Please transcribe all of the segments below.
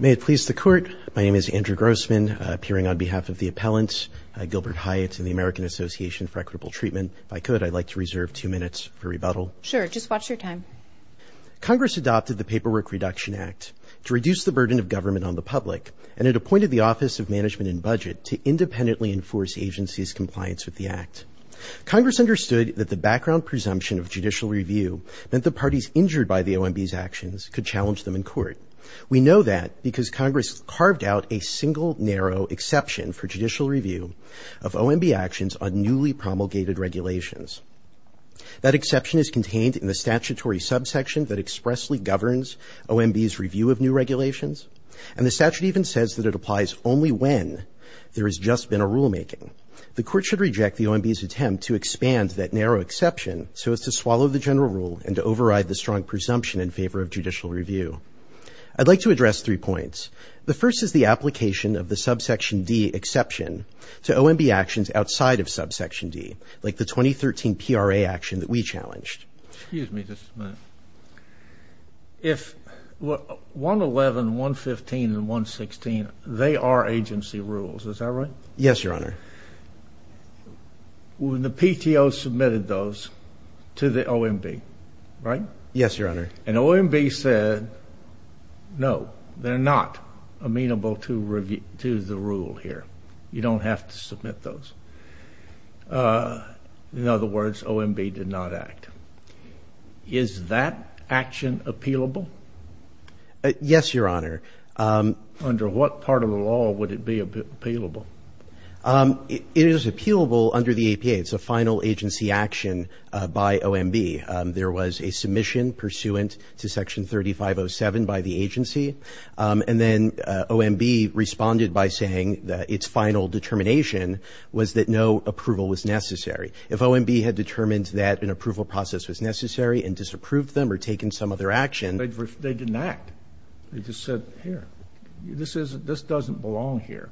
May it please the Court, my name is Andrew Grossman, appearing on behalf of the Appellants Gilbert Hyatt and the American Association for Equitable Treatment. If I could, I'd like to reserve two minutes for rebuttal. Sure, just watch your time. Congress adopted the Paperwork Reduction Act to reduce the burden of government on the public, and it appointed the Office of Management and Budget to independently enforce agencies' compliance with the Act. Congress understood that the background presumption of judicial review meant that parties injured by the OMB's actions could challenge them in court. We know that because Congress carved out a single narrow exception for judicial review of OMB actions on newly promulgated regulations. That exception is contained in the statutory subsection that expressly governs OMB's review of new regulations, and the statute even says that it applies only when there has just been a rulemaking. The Court should reject the OMB's attempt to expand that narrow exception so as to swallow the general rule and to override the strong presumption in favor of judicial review. I'd like to address three points. The first is the application of the subsection D exception to OMB actions outside of subsection D, like the 2013 PRA action that we challenged. Excuse me just a minute. If 111, 115 and 116, they are agency rules, is that right? Yes, Your Honor. When the PTO submitted those to the OMB, right? Yes, Your Honor. And OMB said, no, they're not amenable to the rule here. You don't have to submit those. In other words, OMB did not act. Is that action appealable? Yes, Your Honor. Under what part of the law would it be appealable? It is appealable under the APA. It's a final agency action by OMB. There was a submission pursuant to section 3507 by the agency, and then OMB responded by saying that its final determination was that no approval was necessary. If OMB had determined that an approval process was necessary and disapproved them or taken some other action. They didn't act. They just said, here, this doesn't belong here.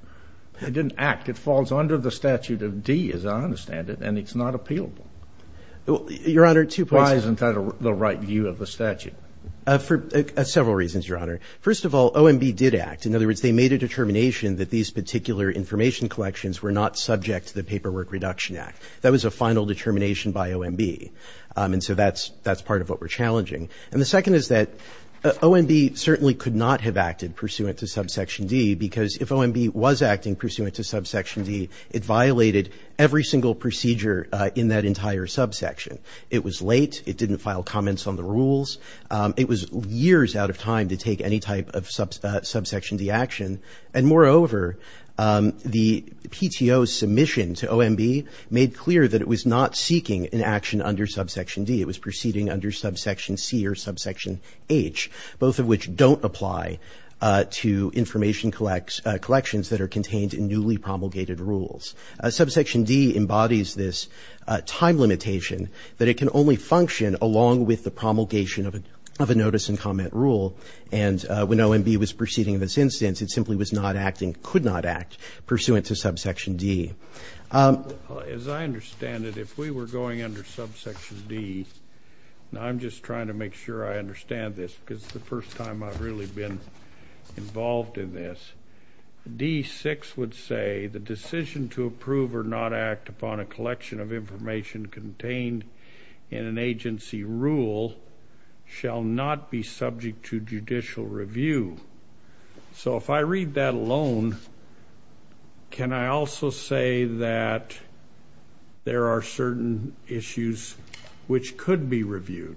It didn't act. It falls under the statute of D, as I understand it, and it's not appealable. Your Honor, two points. Why isn't that the right view of the statute? For several reasons, Your Honor. First of all, OMB did act. In other words, they made a determination that these particular information collections were not subject to the Paperwork Reduction Act. That was a final determination by OMB. And so that's part of what we're OMB certainly could not have acted pursuant to subsection D, because if OMB was acting pursuant to subsection D, it violated every single procedure in that entire subsection. It was late. It didn't file comments on the rules. It was years out of time to take any type of subsection D action. And moreover, the PTO's submission to OMB made clear that it was not seeking an action under subsection D. It was proceeding under subsection C or subsection H, both of which don't apply to information collections that are contained in newly promulgated rules. Subsection D embodies this time limitation that it can only function along with the promulgation of a notice and comment rule. And when OMB was proceeding in this instance, it simply was not acting, could not act, pursuant to subsection D. As I understand it, if we were going under subsection D, and I'm just trying to make sure I understand this because it's the first time I've really been involved in this, D-6 would say, the decision to approve or not act upon a collection of information contained in an agency rule shall not be subject to judicial review. So if I read that alone, can I also say that there are certain issues which could be reviewed?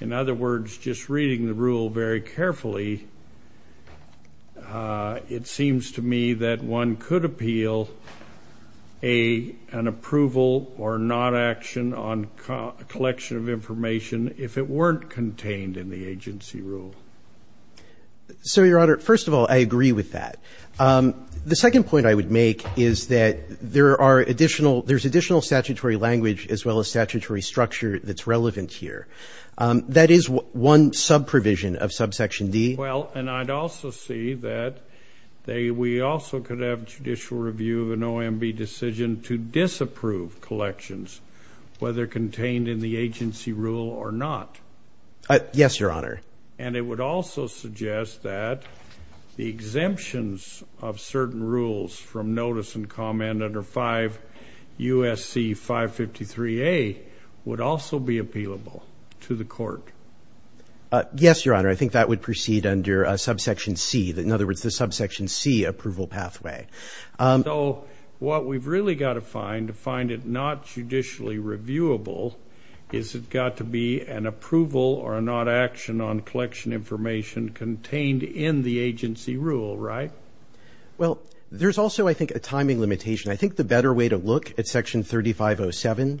In other words, if I'm just reading the rule very carefully, it seems to me that one could appeal an approval or not action on a collection of information if it weren't contained in the agency rule. So Your Honor, first of all, I agree with that. The second point I would make is that there are additional, there's additional statutory language as well as statutory structure that's relevant here. That is one sub-provision of subsection D. Well, and I'd also say that we also could have judicial review of an OMB decision to disapprove collections, whether contained in the agency rule or not. Yes, Your Honor. And it would also suggest that the exemptions of certain rules from notice and comment under 5 U.S.C. 553A would also be appealable to the court. Yes, Your Honor. I think that would proceed under subsection C. In other words, the subsection C approval pathway. So what we've really got to find to find it not judicially reviewable is it got to be an approval or not action on collection information contained in the agency rule, right? Well, there's also, I think, a timing limitation. I think the better way to look at section 3507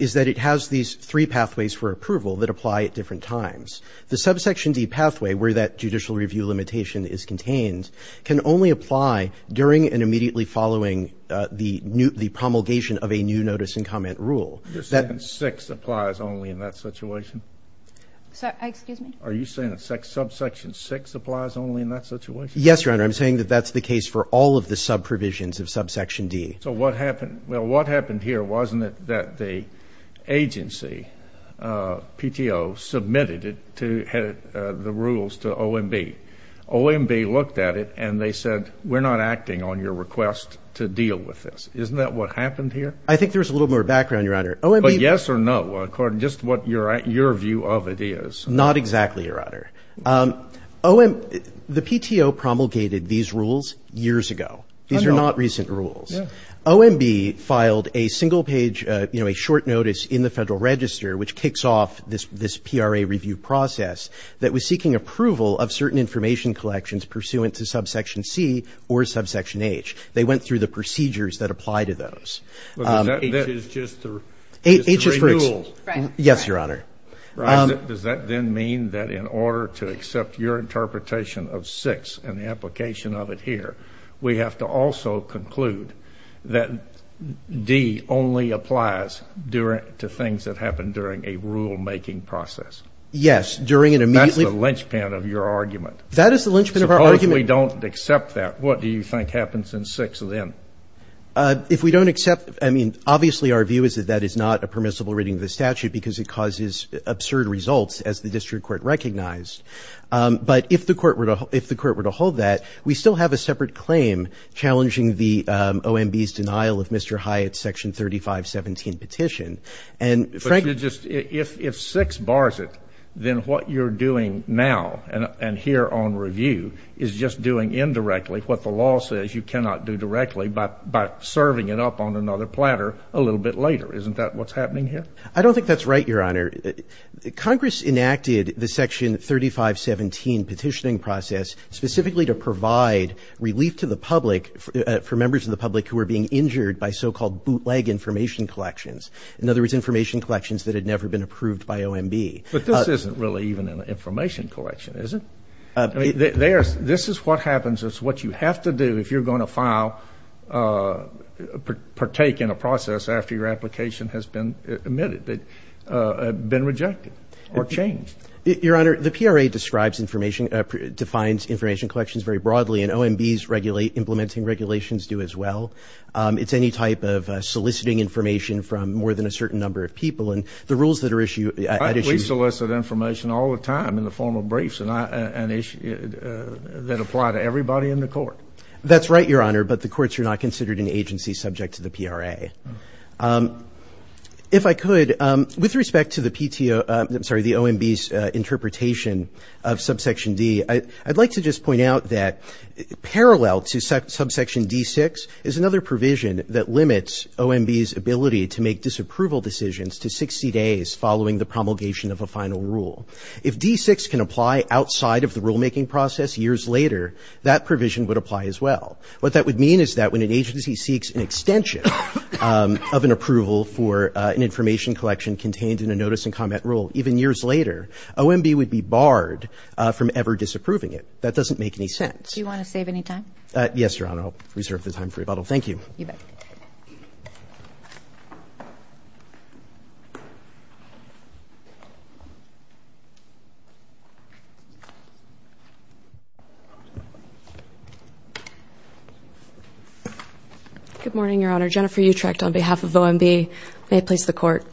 is that it has these three pathways for approval that apply at different times. The subsection D pathway where that judicial review limitation is contained can only apply during and immediately following the promulgation of a new notice and comment rule. The section 6 applies only in that situation? Excuse me? Are you saying that subsection 6 applies only in that situation? Yes, Your Honor. I'm saying that that's the case for all of the subprovisions of subsection D. So what happened? Well, what happened here wasn't it that the agency, PTO, submitted it to the rules to OMB. OMB looked at it and they said, we're not acting on your request to deal with this. Isn't that what happened here? I think there's a little more background, Your Honor. But yes or no, according to just what your view of it is? Not exactly, Your Honor. The PTO promulgated these rules years ago. These are not recent rules. OMB filed a single page, you know, a short notice in the Federal Register which kicks off this PRA review process that was seeking approval of certain information collections pursuant to subsection C or subsection H. They went through the procedures that apply to those. But that H is just the, it's the renewal. Yes, Your Honor. Does that then mean that in order to accept your interpretation of 6 and the application of it here, we have to also conclude that D only applies during, to things that happen during a rule-making process? Yes. During an immediate. That's the linchpin of your argument. That is the linchpin of our argument. Suppose we don't accept that, what do you think happens in 6 then? If we don't accept, I mean, obviously our view is that that is not a permissible reading of the statute because it causes absurd results, as the district court recognized. But if the court were to hold that, we still have a separate claim challenging the OMB's denial of Mr. Hyatt's Section 3517 petition. But you're just, if 6 bars it, then what you're doing now and here on review is just doing indirectly what the law says you cannot do directly by serving it up on another I don't think that's right, Your Honor. Congress enacted the Section 3517 petitioning process specifically to provide relief to the public for members of the public who are being injured by so-called bootleg information collections. In other words, information collections that had never been approved by OMB. But this isn't really even an information collection, is it? This is what happens, it's what you have to do if you're going to file, partake in a process after your application has been omitted, been rejected, or changed. Your Honor, the PRA describes information, defines information collections very broadly and OMB's implementing regulations do as well. It's any type of soliciting information from more than a certain number of people. And the rules that are issued... We solicit information all the time in the form of briefs that apply to everybody in the court. That's right, Your Honor, but the courts are not considered an agency subject to the PRA. If I could, with respect to the OMB's interpretation of Subsection D, I'd like to just point out that parallel to Subsection D-6 is another provision that limits OMB's ability to make disapproval decisions to 60 days following the promulgation of a final rule. If D-6 can apply outside of the rulemaking process years later, that provision would apply as well. What that would mean is that when an agency seeks an extension of an approval for an information collection contained in a notice and comment rule even years later, OMB would be barred from ever disapproving it. That doesn't make any sense. Do you want to save any time? Yes, Your Honor, I'll reserve the time for rebuttal. Thank you. You bet. Good morning, Your Honor. Jennifer Utrecht on behalf of OMB may place the court.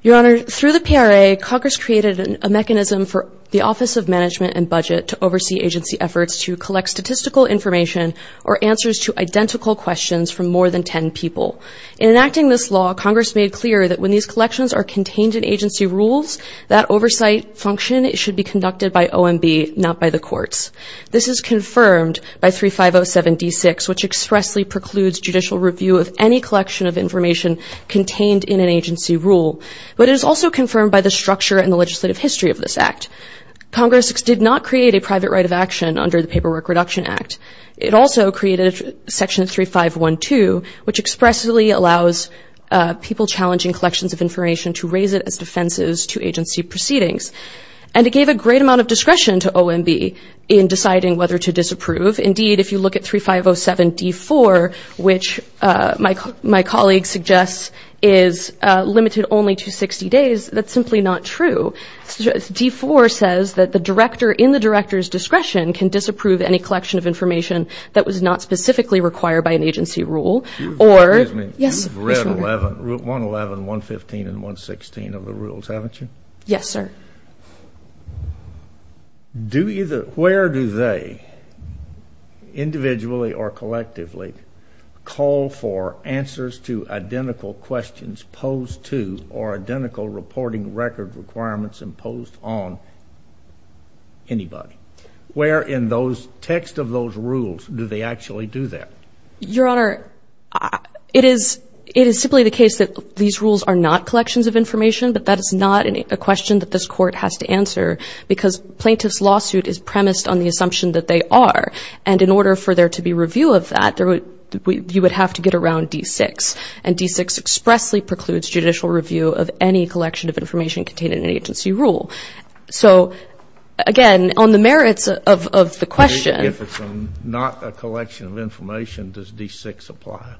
Your Honor, through the PRA, Congress created a mechanism for the Office of Management and Budget to oversee agency efforts to collect statistical information or answers to identical questions from more than 10 people. In enacting this law, Congress made clear that when these collections are contained in agency rules, that oversight function should be conducted by OMB, not by the courts. This is confirmed by 3507 D-6, which expressly precludes judicial review of any collection of information contained in an agency rule. But it is also confirmed by the structure and the legislative history of this act. Congress did not create a private right of action under the Paperwork Reduction Act. It also created Section 3512, which expressly allows people challenging collections of information to raise it as defenses to agency proceedings. And it gave a great amount of discretion to OMB in deciding whether to disapprove. Indeed, if you look at 3507 D-4, which my colleague suggests is limited only to 60 days, that's simply not true. D-4 says that the director in the director's discretion can disapprove any collection of information that was not specifically required by an agency rule. Excuse me. You've read 111, 115, and 116 of the rules, haven't you? Yes, sir. Where do they individually or collectively call for answers to identical questions posed to or identical reporting record requirements imposed on anybody? Where in those text of those rules do they actually do that? Your Honor, it is simply the case that these rules are not collections of information, but that is not a question that this Court has to answer, because plaintiff's lawsuit is premised on the assumption that they are. And in order for there to be review of that, you would have to get around D-6. And D-6 expressly precludes judicial review of any collection of information contained in an agency rule. So, again, on the merits of the question. If it's not a collection of information, does D-6 apply?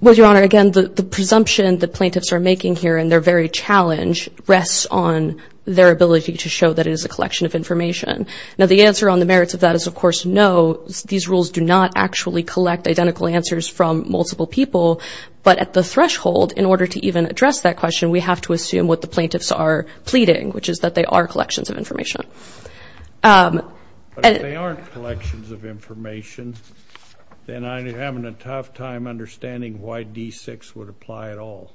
Well, Your Honor, again, the presumption the plaintiffs are making here and their very challenge rests on their ability to show that it is a collection of information. Now, the answer on the merits of that is, of course, no. These rules do not actually collect identical answers from multiple people. But at the threshold, in order to even address that question, we have to assume what the plaintiffs are pleading, which is that they are collections of information. But if they aren't collections of information, then I'm having a tough time understanding why D-6 would apply at all.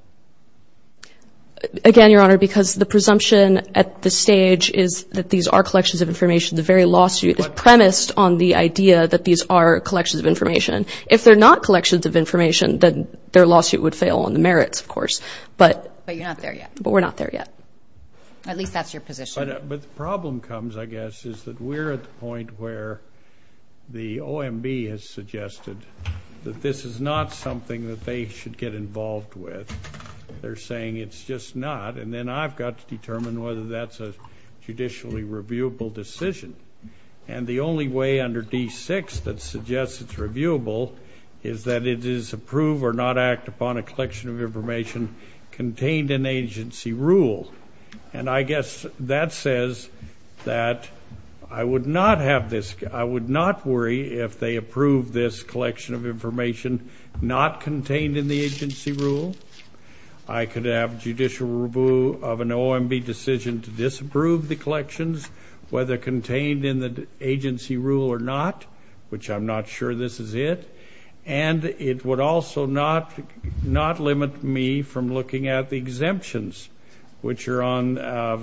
Again, Your Honor, because the presumption at this stage is that these are collections of information. The very lawsuit is premised on the idea that these are collections of information. If they're not collections of information, then their lawsuit would fail on the merits, of course. But you're not there yet. But we're not there yet. At least that's your position. But the problem comes, I guess, is that we're at the point where the OMB has suggested that this is not something that they should get involved with. They're saying it's just not. And then I've got to determine whether that's a judicially reviewable decision. And the only way under D-6 that suggests it's reviewable is that it is approve or not act upon a collection of information contained in agency rule. And I guess that says that I would not worry if they approve this collection of information not contained in the agency rule. I could have judicial review of an OMB decision to disapprove the collections, whether contained in the agency rule or not, which I'm not sure this is it. And it would also not limit me from looking at the exemptions, which are on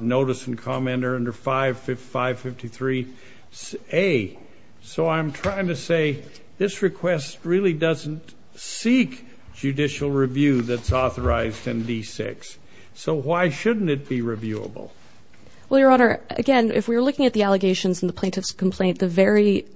notice and comment under 553A. So I'm trying to say this request really doesn't seek judicial review that's authorized in D-6. So why shouldn't it be reviewable? Well, Your Honor, again, if we were looking at the allegations in the plaintiff's complaint, the very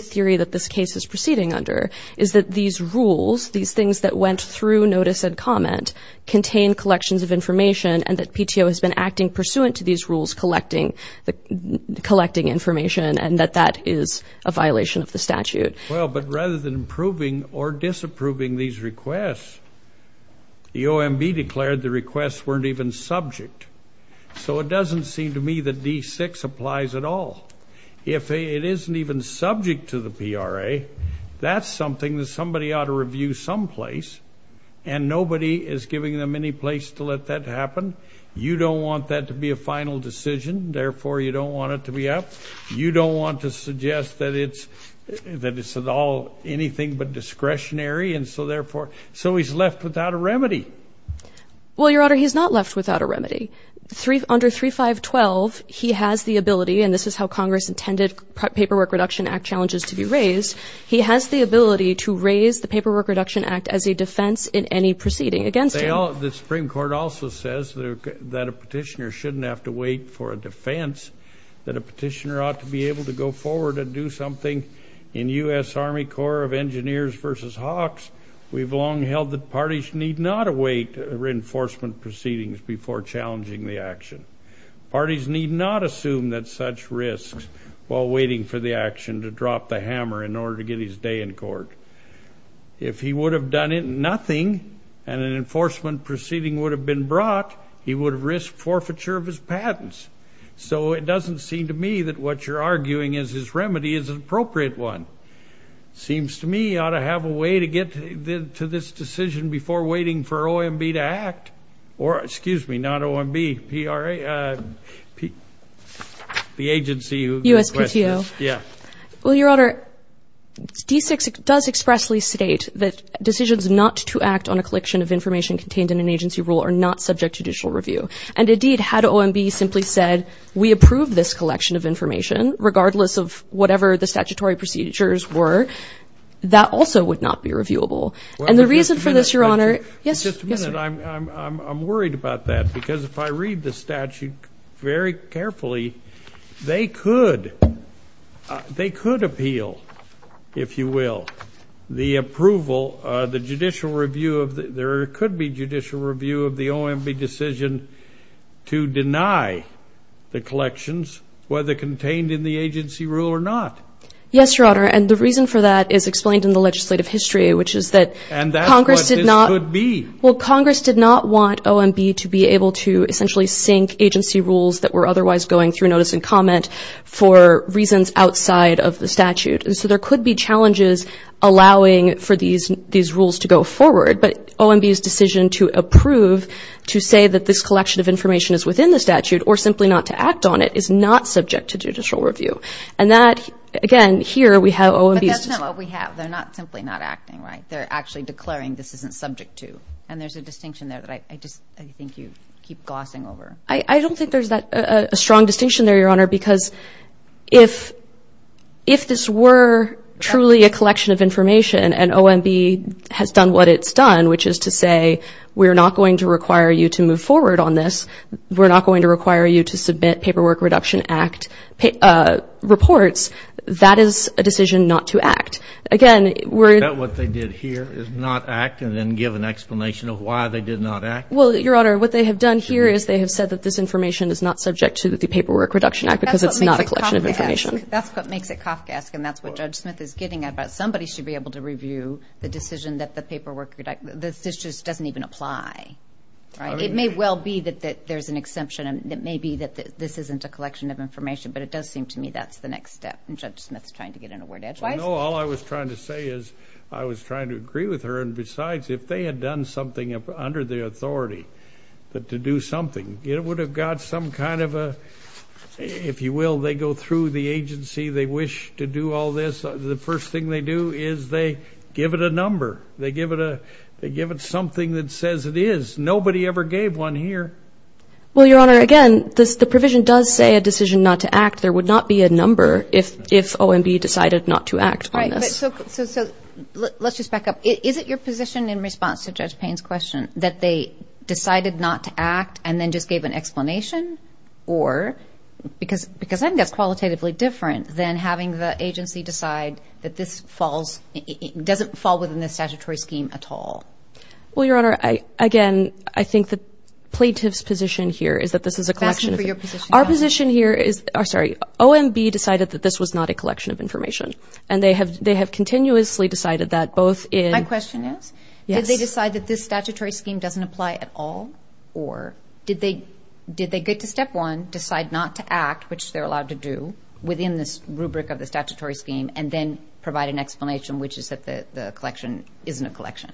theory that this case is proceeding under is that these rules, these things that went through notice and comment, contain collections of information and that PTO has been acting pursuant to these rules collecting information and that that is a violation of the statute. Well, but rather than approving or disapproving these requests, the OMB declared the requests weren't even subject. So it doesn't seem to me that D-6 applies at all. If it isn't even subject to the PRA, that's something that somebody ought to review someplace, and nobody is giving them any place to let that happen. You don't want that to be a final decision. Therefore, you don't want it to be up. You don't want to suggest that it's at all anything but discretionary, and so, therefore, so he's left without a remedy. Well, Your Honor, he's not left without a remedy. Under 3512, he has the ability, and this is how Congress intended Paperwork Reduction Act challenges to be raised, he has the ability to raise the Paperwork Reduction Act as a defense in any proceeding against him. The Supreme Court also says that a petitioner shouldn't have to wait for a defense, that a petitioner ought to be able to go forward and do something. In U.S. Army Corps of Engineers v. Hawks, we've long held that parties need not await reinforcement proceedings before challenging the action. Parties need not assume that such risks while waiting for the action to drop the hammer in order to get his day in court. If he would have done nothing, and an enforcement proceeding would have been brought, he would have risked forfeiture of his patents. So it doesn't seem to me that what you're arguing is his remedy is an appropriate one. Seems to me he ought to have a way to get to this decision before waiting for OMB to act. Or, excuse me, not OMB, PRA, the agency who gave the question. USPTO. Yeah. Well, Your Honor, D-6 does expressly state that decisions not to act on a collection of information contained in an agency rule are not subject to judicial review. And, indeed, had OMB simply said, we approve this collection of information, regardless of whatever the statutory procedures were, that also would not be reviewable. And the reason for this, Your Honor – Just a minute. I'm worried about that because if I read the statute very carefully, they could appeal, if you will, the approval, the judicial review of the – there could be judicial review of the OMB decision to deny the collections, whether contained in the agency rule or not. Yes, Your Honor, and the reason for that is explained in the legislative history, which is that Congress did not – And that's what this could be. Well, Congress did not want OMB to be able to essentially sink agency rules that were otherwise going through notice and comment for reasons outside of the statute. And so there could be challenges allowing for these rules to go forward. But OMB's decision to approve, to say that this collection of information is within the statute or simply not to act on it, is not subject to judicial review. And that, again, here we have OMB's – But that's not what we have. They're not simply not acting, right? They're actually declaring this isn't subject to. And there's a distinction there that I just think you keep glossing over. I don't think there's a strong distinction there, Your Honor, because if this were truly a collection of information and OMB has done what it's done, which is to say we're not going to require you to move forward on this, we're not going to require you to submit Paperwork Reduction Act reports, that is a decision not to act. Again, we're – Is that what they did here, is not act and then give an explanation of why they did not act? Well, Your Honor, what they have done here is they have said that this information is not subject to the Paperwork Reduction Act because it's not a collection of information. That's what makes it Kafkaesque. That's what makes it Kafkaesque, and that's what Judge Smith is getting at, about somebody should be able to review the decision that the paperwork – this just doesn't even apply, right? It may well be that there's an exemption, and it may be that this isn't a collection of information, but it does seem to me that's the next step, and Judge Smith's trying to get in a word edgewise. No, all I was trying to say is I was trying to agree with her. And besides, if they had done something under the authority to do something, it would have got some kind of a – if you will, they go through the agency, they wish to do all this. The first thing they do is they give it a number. They give it something that says it is. Nobody ever gave one here. Well, Your Honor, again, the provision does say a decision not to act. There would not be a number if OMB decided not to act on this. So let's just back up. Is it your position in response to Judge Payne's question that they decided not to act and then just gave an explanation? Or – because I think that's qualitatively different than having the agency decide that this falls – doesn't fall within the statutory scheme at all. Well, Your Honor, again, I think the plaintiff's position here is that this is a collection of – I'm asking for your position. Our position here is – oh, sorry. OMB decided that this was not a collection of information. And they have continuously decided that both in – My question is, did they decide that this statutory scheme doesn't apply at all? Or did they get to step one, decide not to act, which they're allowed to do, within this rubric of the statutory scheme, and then provide an explanation, which is that the collection isn't a collection?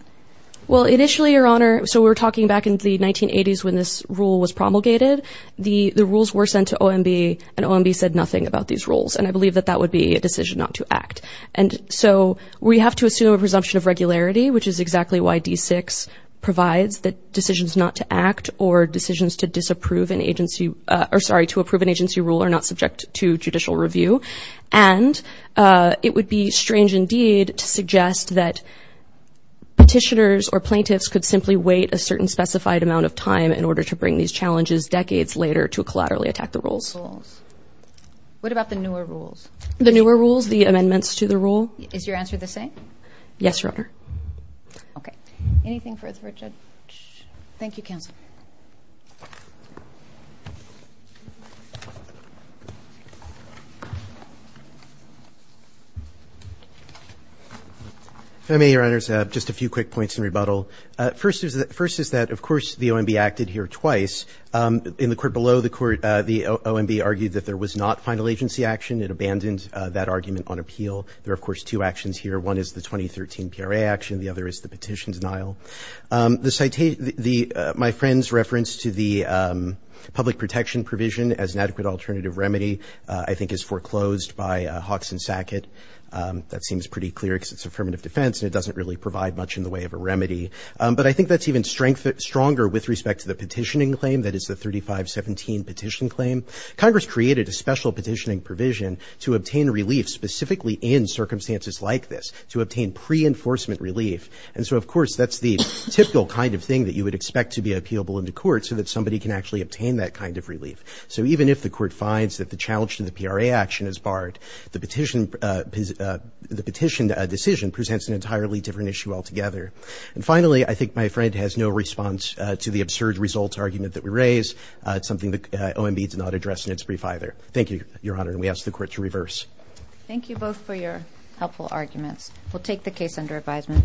Well, initially, Your Honor – so we were talking back in the 1980s when this rule was promulgated. The rules were sent to OMB, and OMB said nothing about these rules. And I believe that that would be a decision not to act. And so we have to assume a presumption of regularity, which is exactly why D-6 provides that decisions not to act or decisions to disapprove an agency – or, sorry, to approve an agency rule are not subject to judicial review. And it would be strange indeed to suggest that petitioners or plaintiffs could simply wait a certain specified amount of time in order to bring these challenges decades later to collaterally attack the rules. Rules. What about the newer rules? The newer rules, the amendments to the rule? Is your answer the same? Yes, Your Honor. Okay. Anything further for a judge? Thank you, counsel. If I may, Your Honors, just a few quick points in rebuttal. First is – first is that, of course, the OMB acted here twice. In the court below the court, the OMB argued that there was not final agency action. It abandoned that argument on appeal. There are, of course, two actions here. One is the 2013 PRA action. The other is the petition denial. The citation – the – my friend's reference to the public protection provision as an adequate alternative remedy I think is foreclosed by Hawks and Sackett. That seems pretty clear because it's affirmative defense, and it doesn't really provide much in the way of a remedy. But I think that's even stronger with respect to the petitioning claim, that is the 3517 petition claim. Congress created a special petitioning provision to obtain relief specifically in circumstances like this, to obtain pre-enforcement relief. And so, of course, that's the typical kind of thing that you would expect to be appealable into court so that somebody can actually obtain that kind of relief. So even if the court finds that the challenge to the PRA action is barred, the petition – the petition decision presents an entirely different issue altogether. And finally, I think my friend has no response to the absurd results argument that we raise. It's something that OMB did not address in its brief either. Thank you, Your Honor, and we ask the Court to reverse. Thank you both for your helpful arguments. We'll take the case under advisement.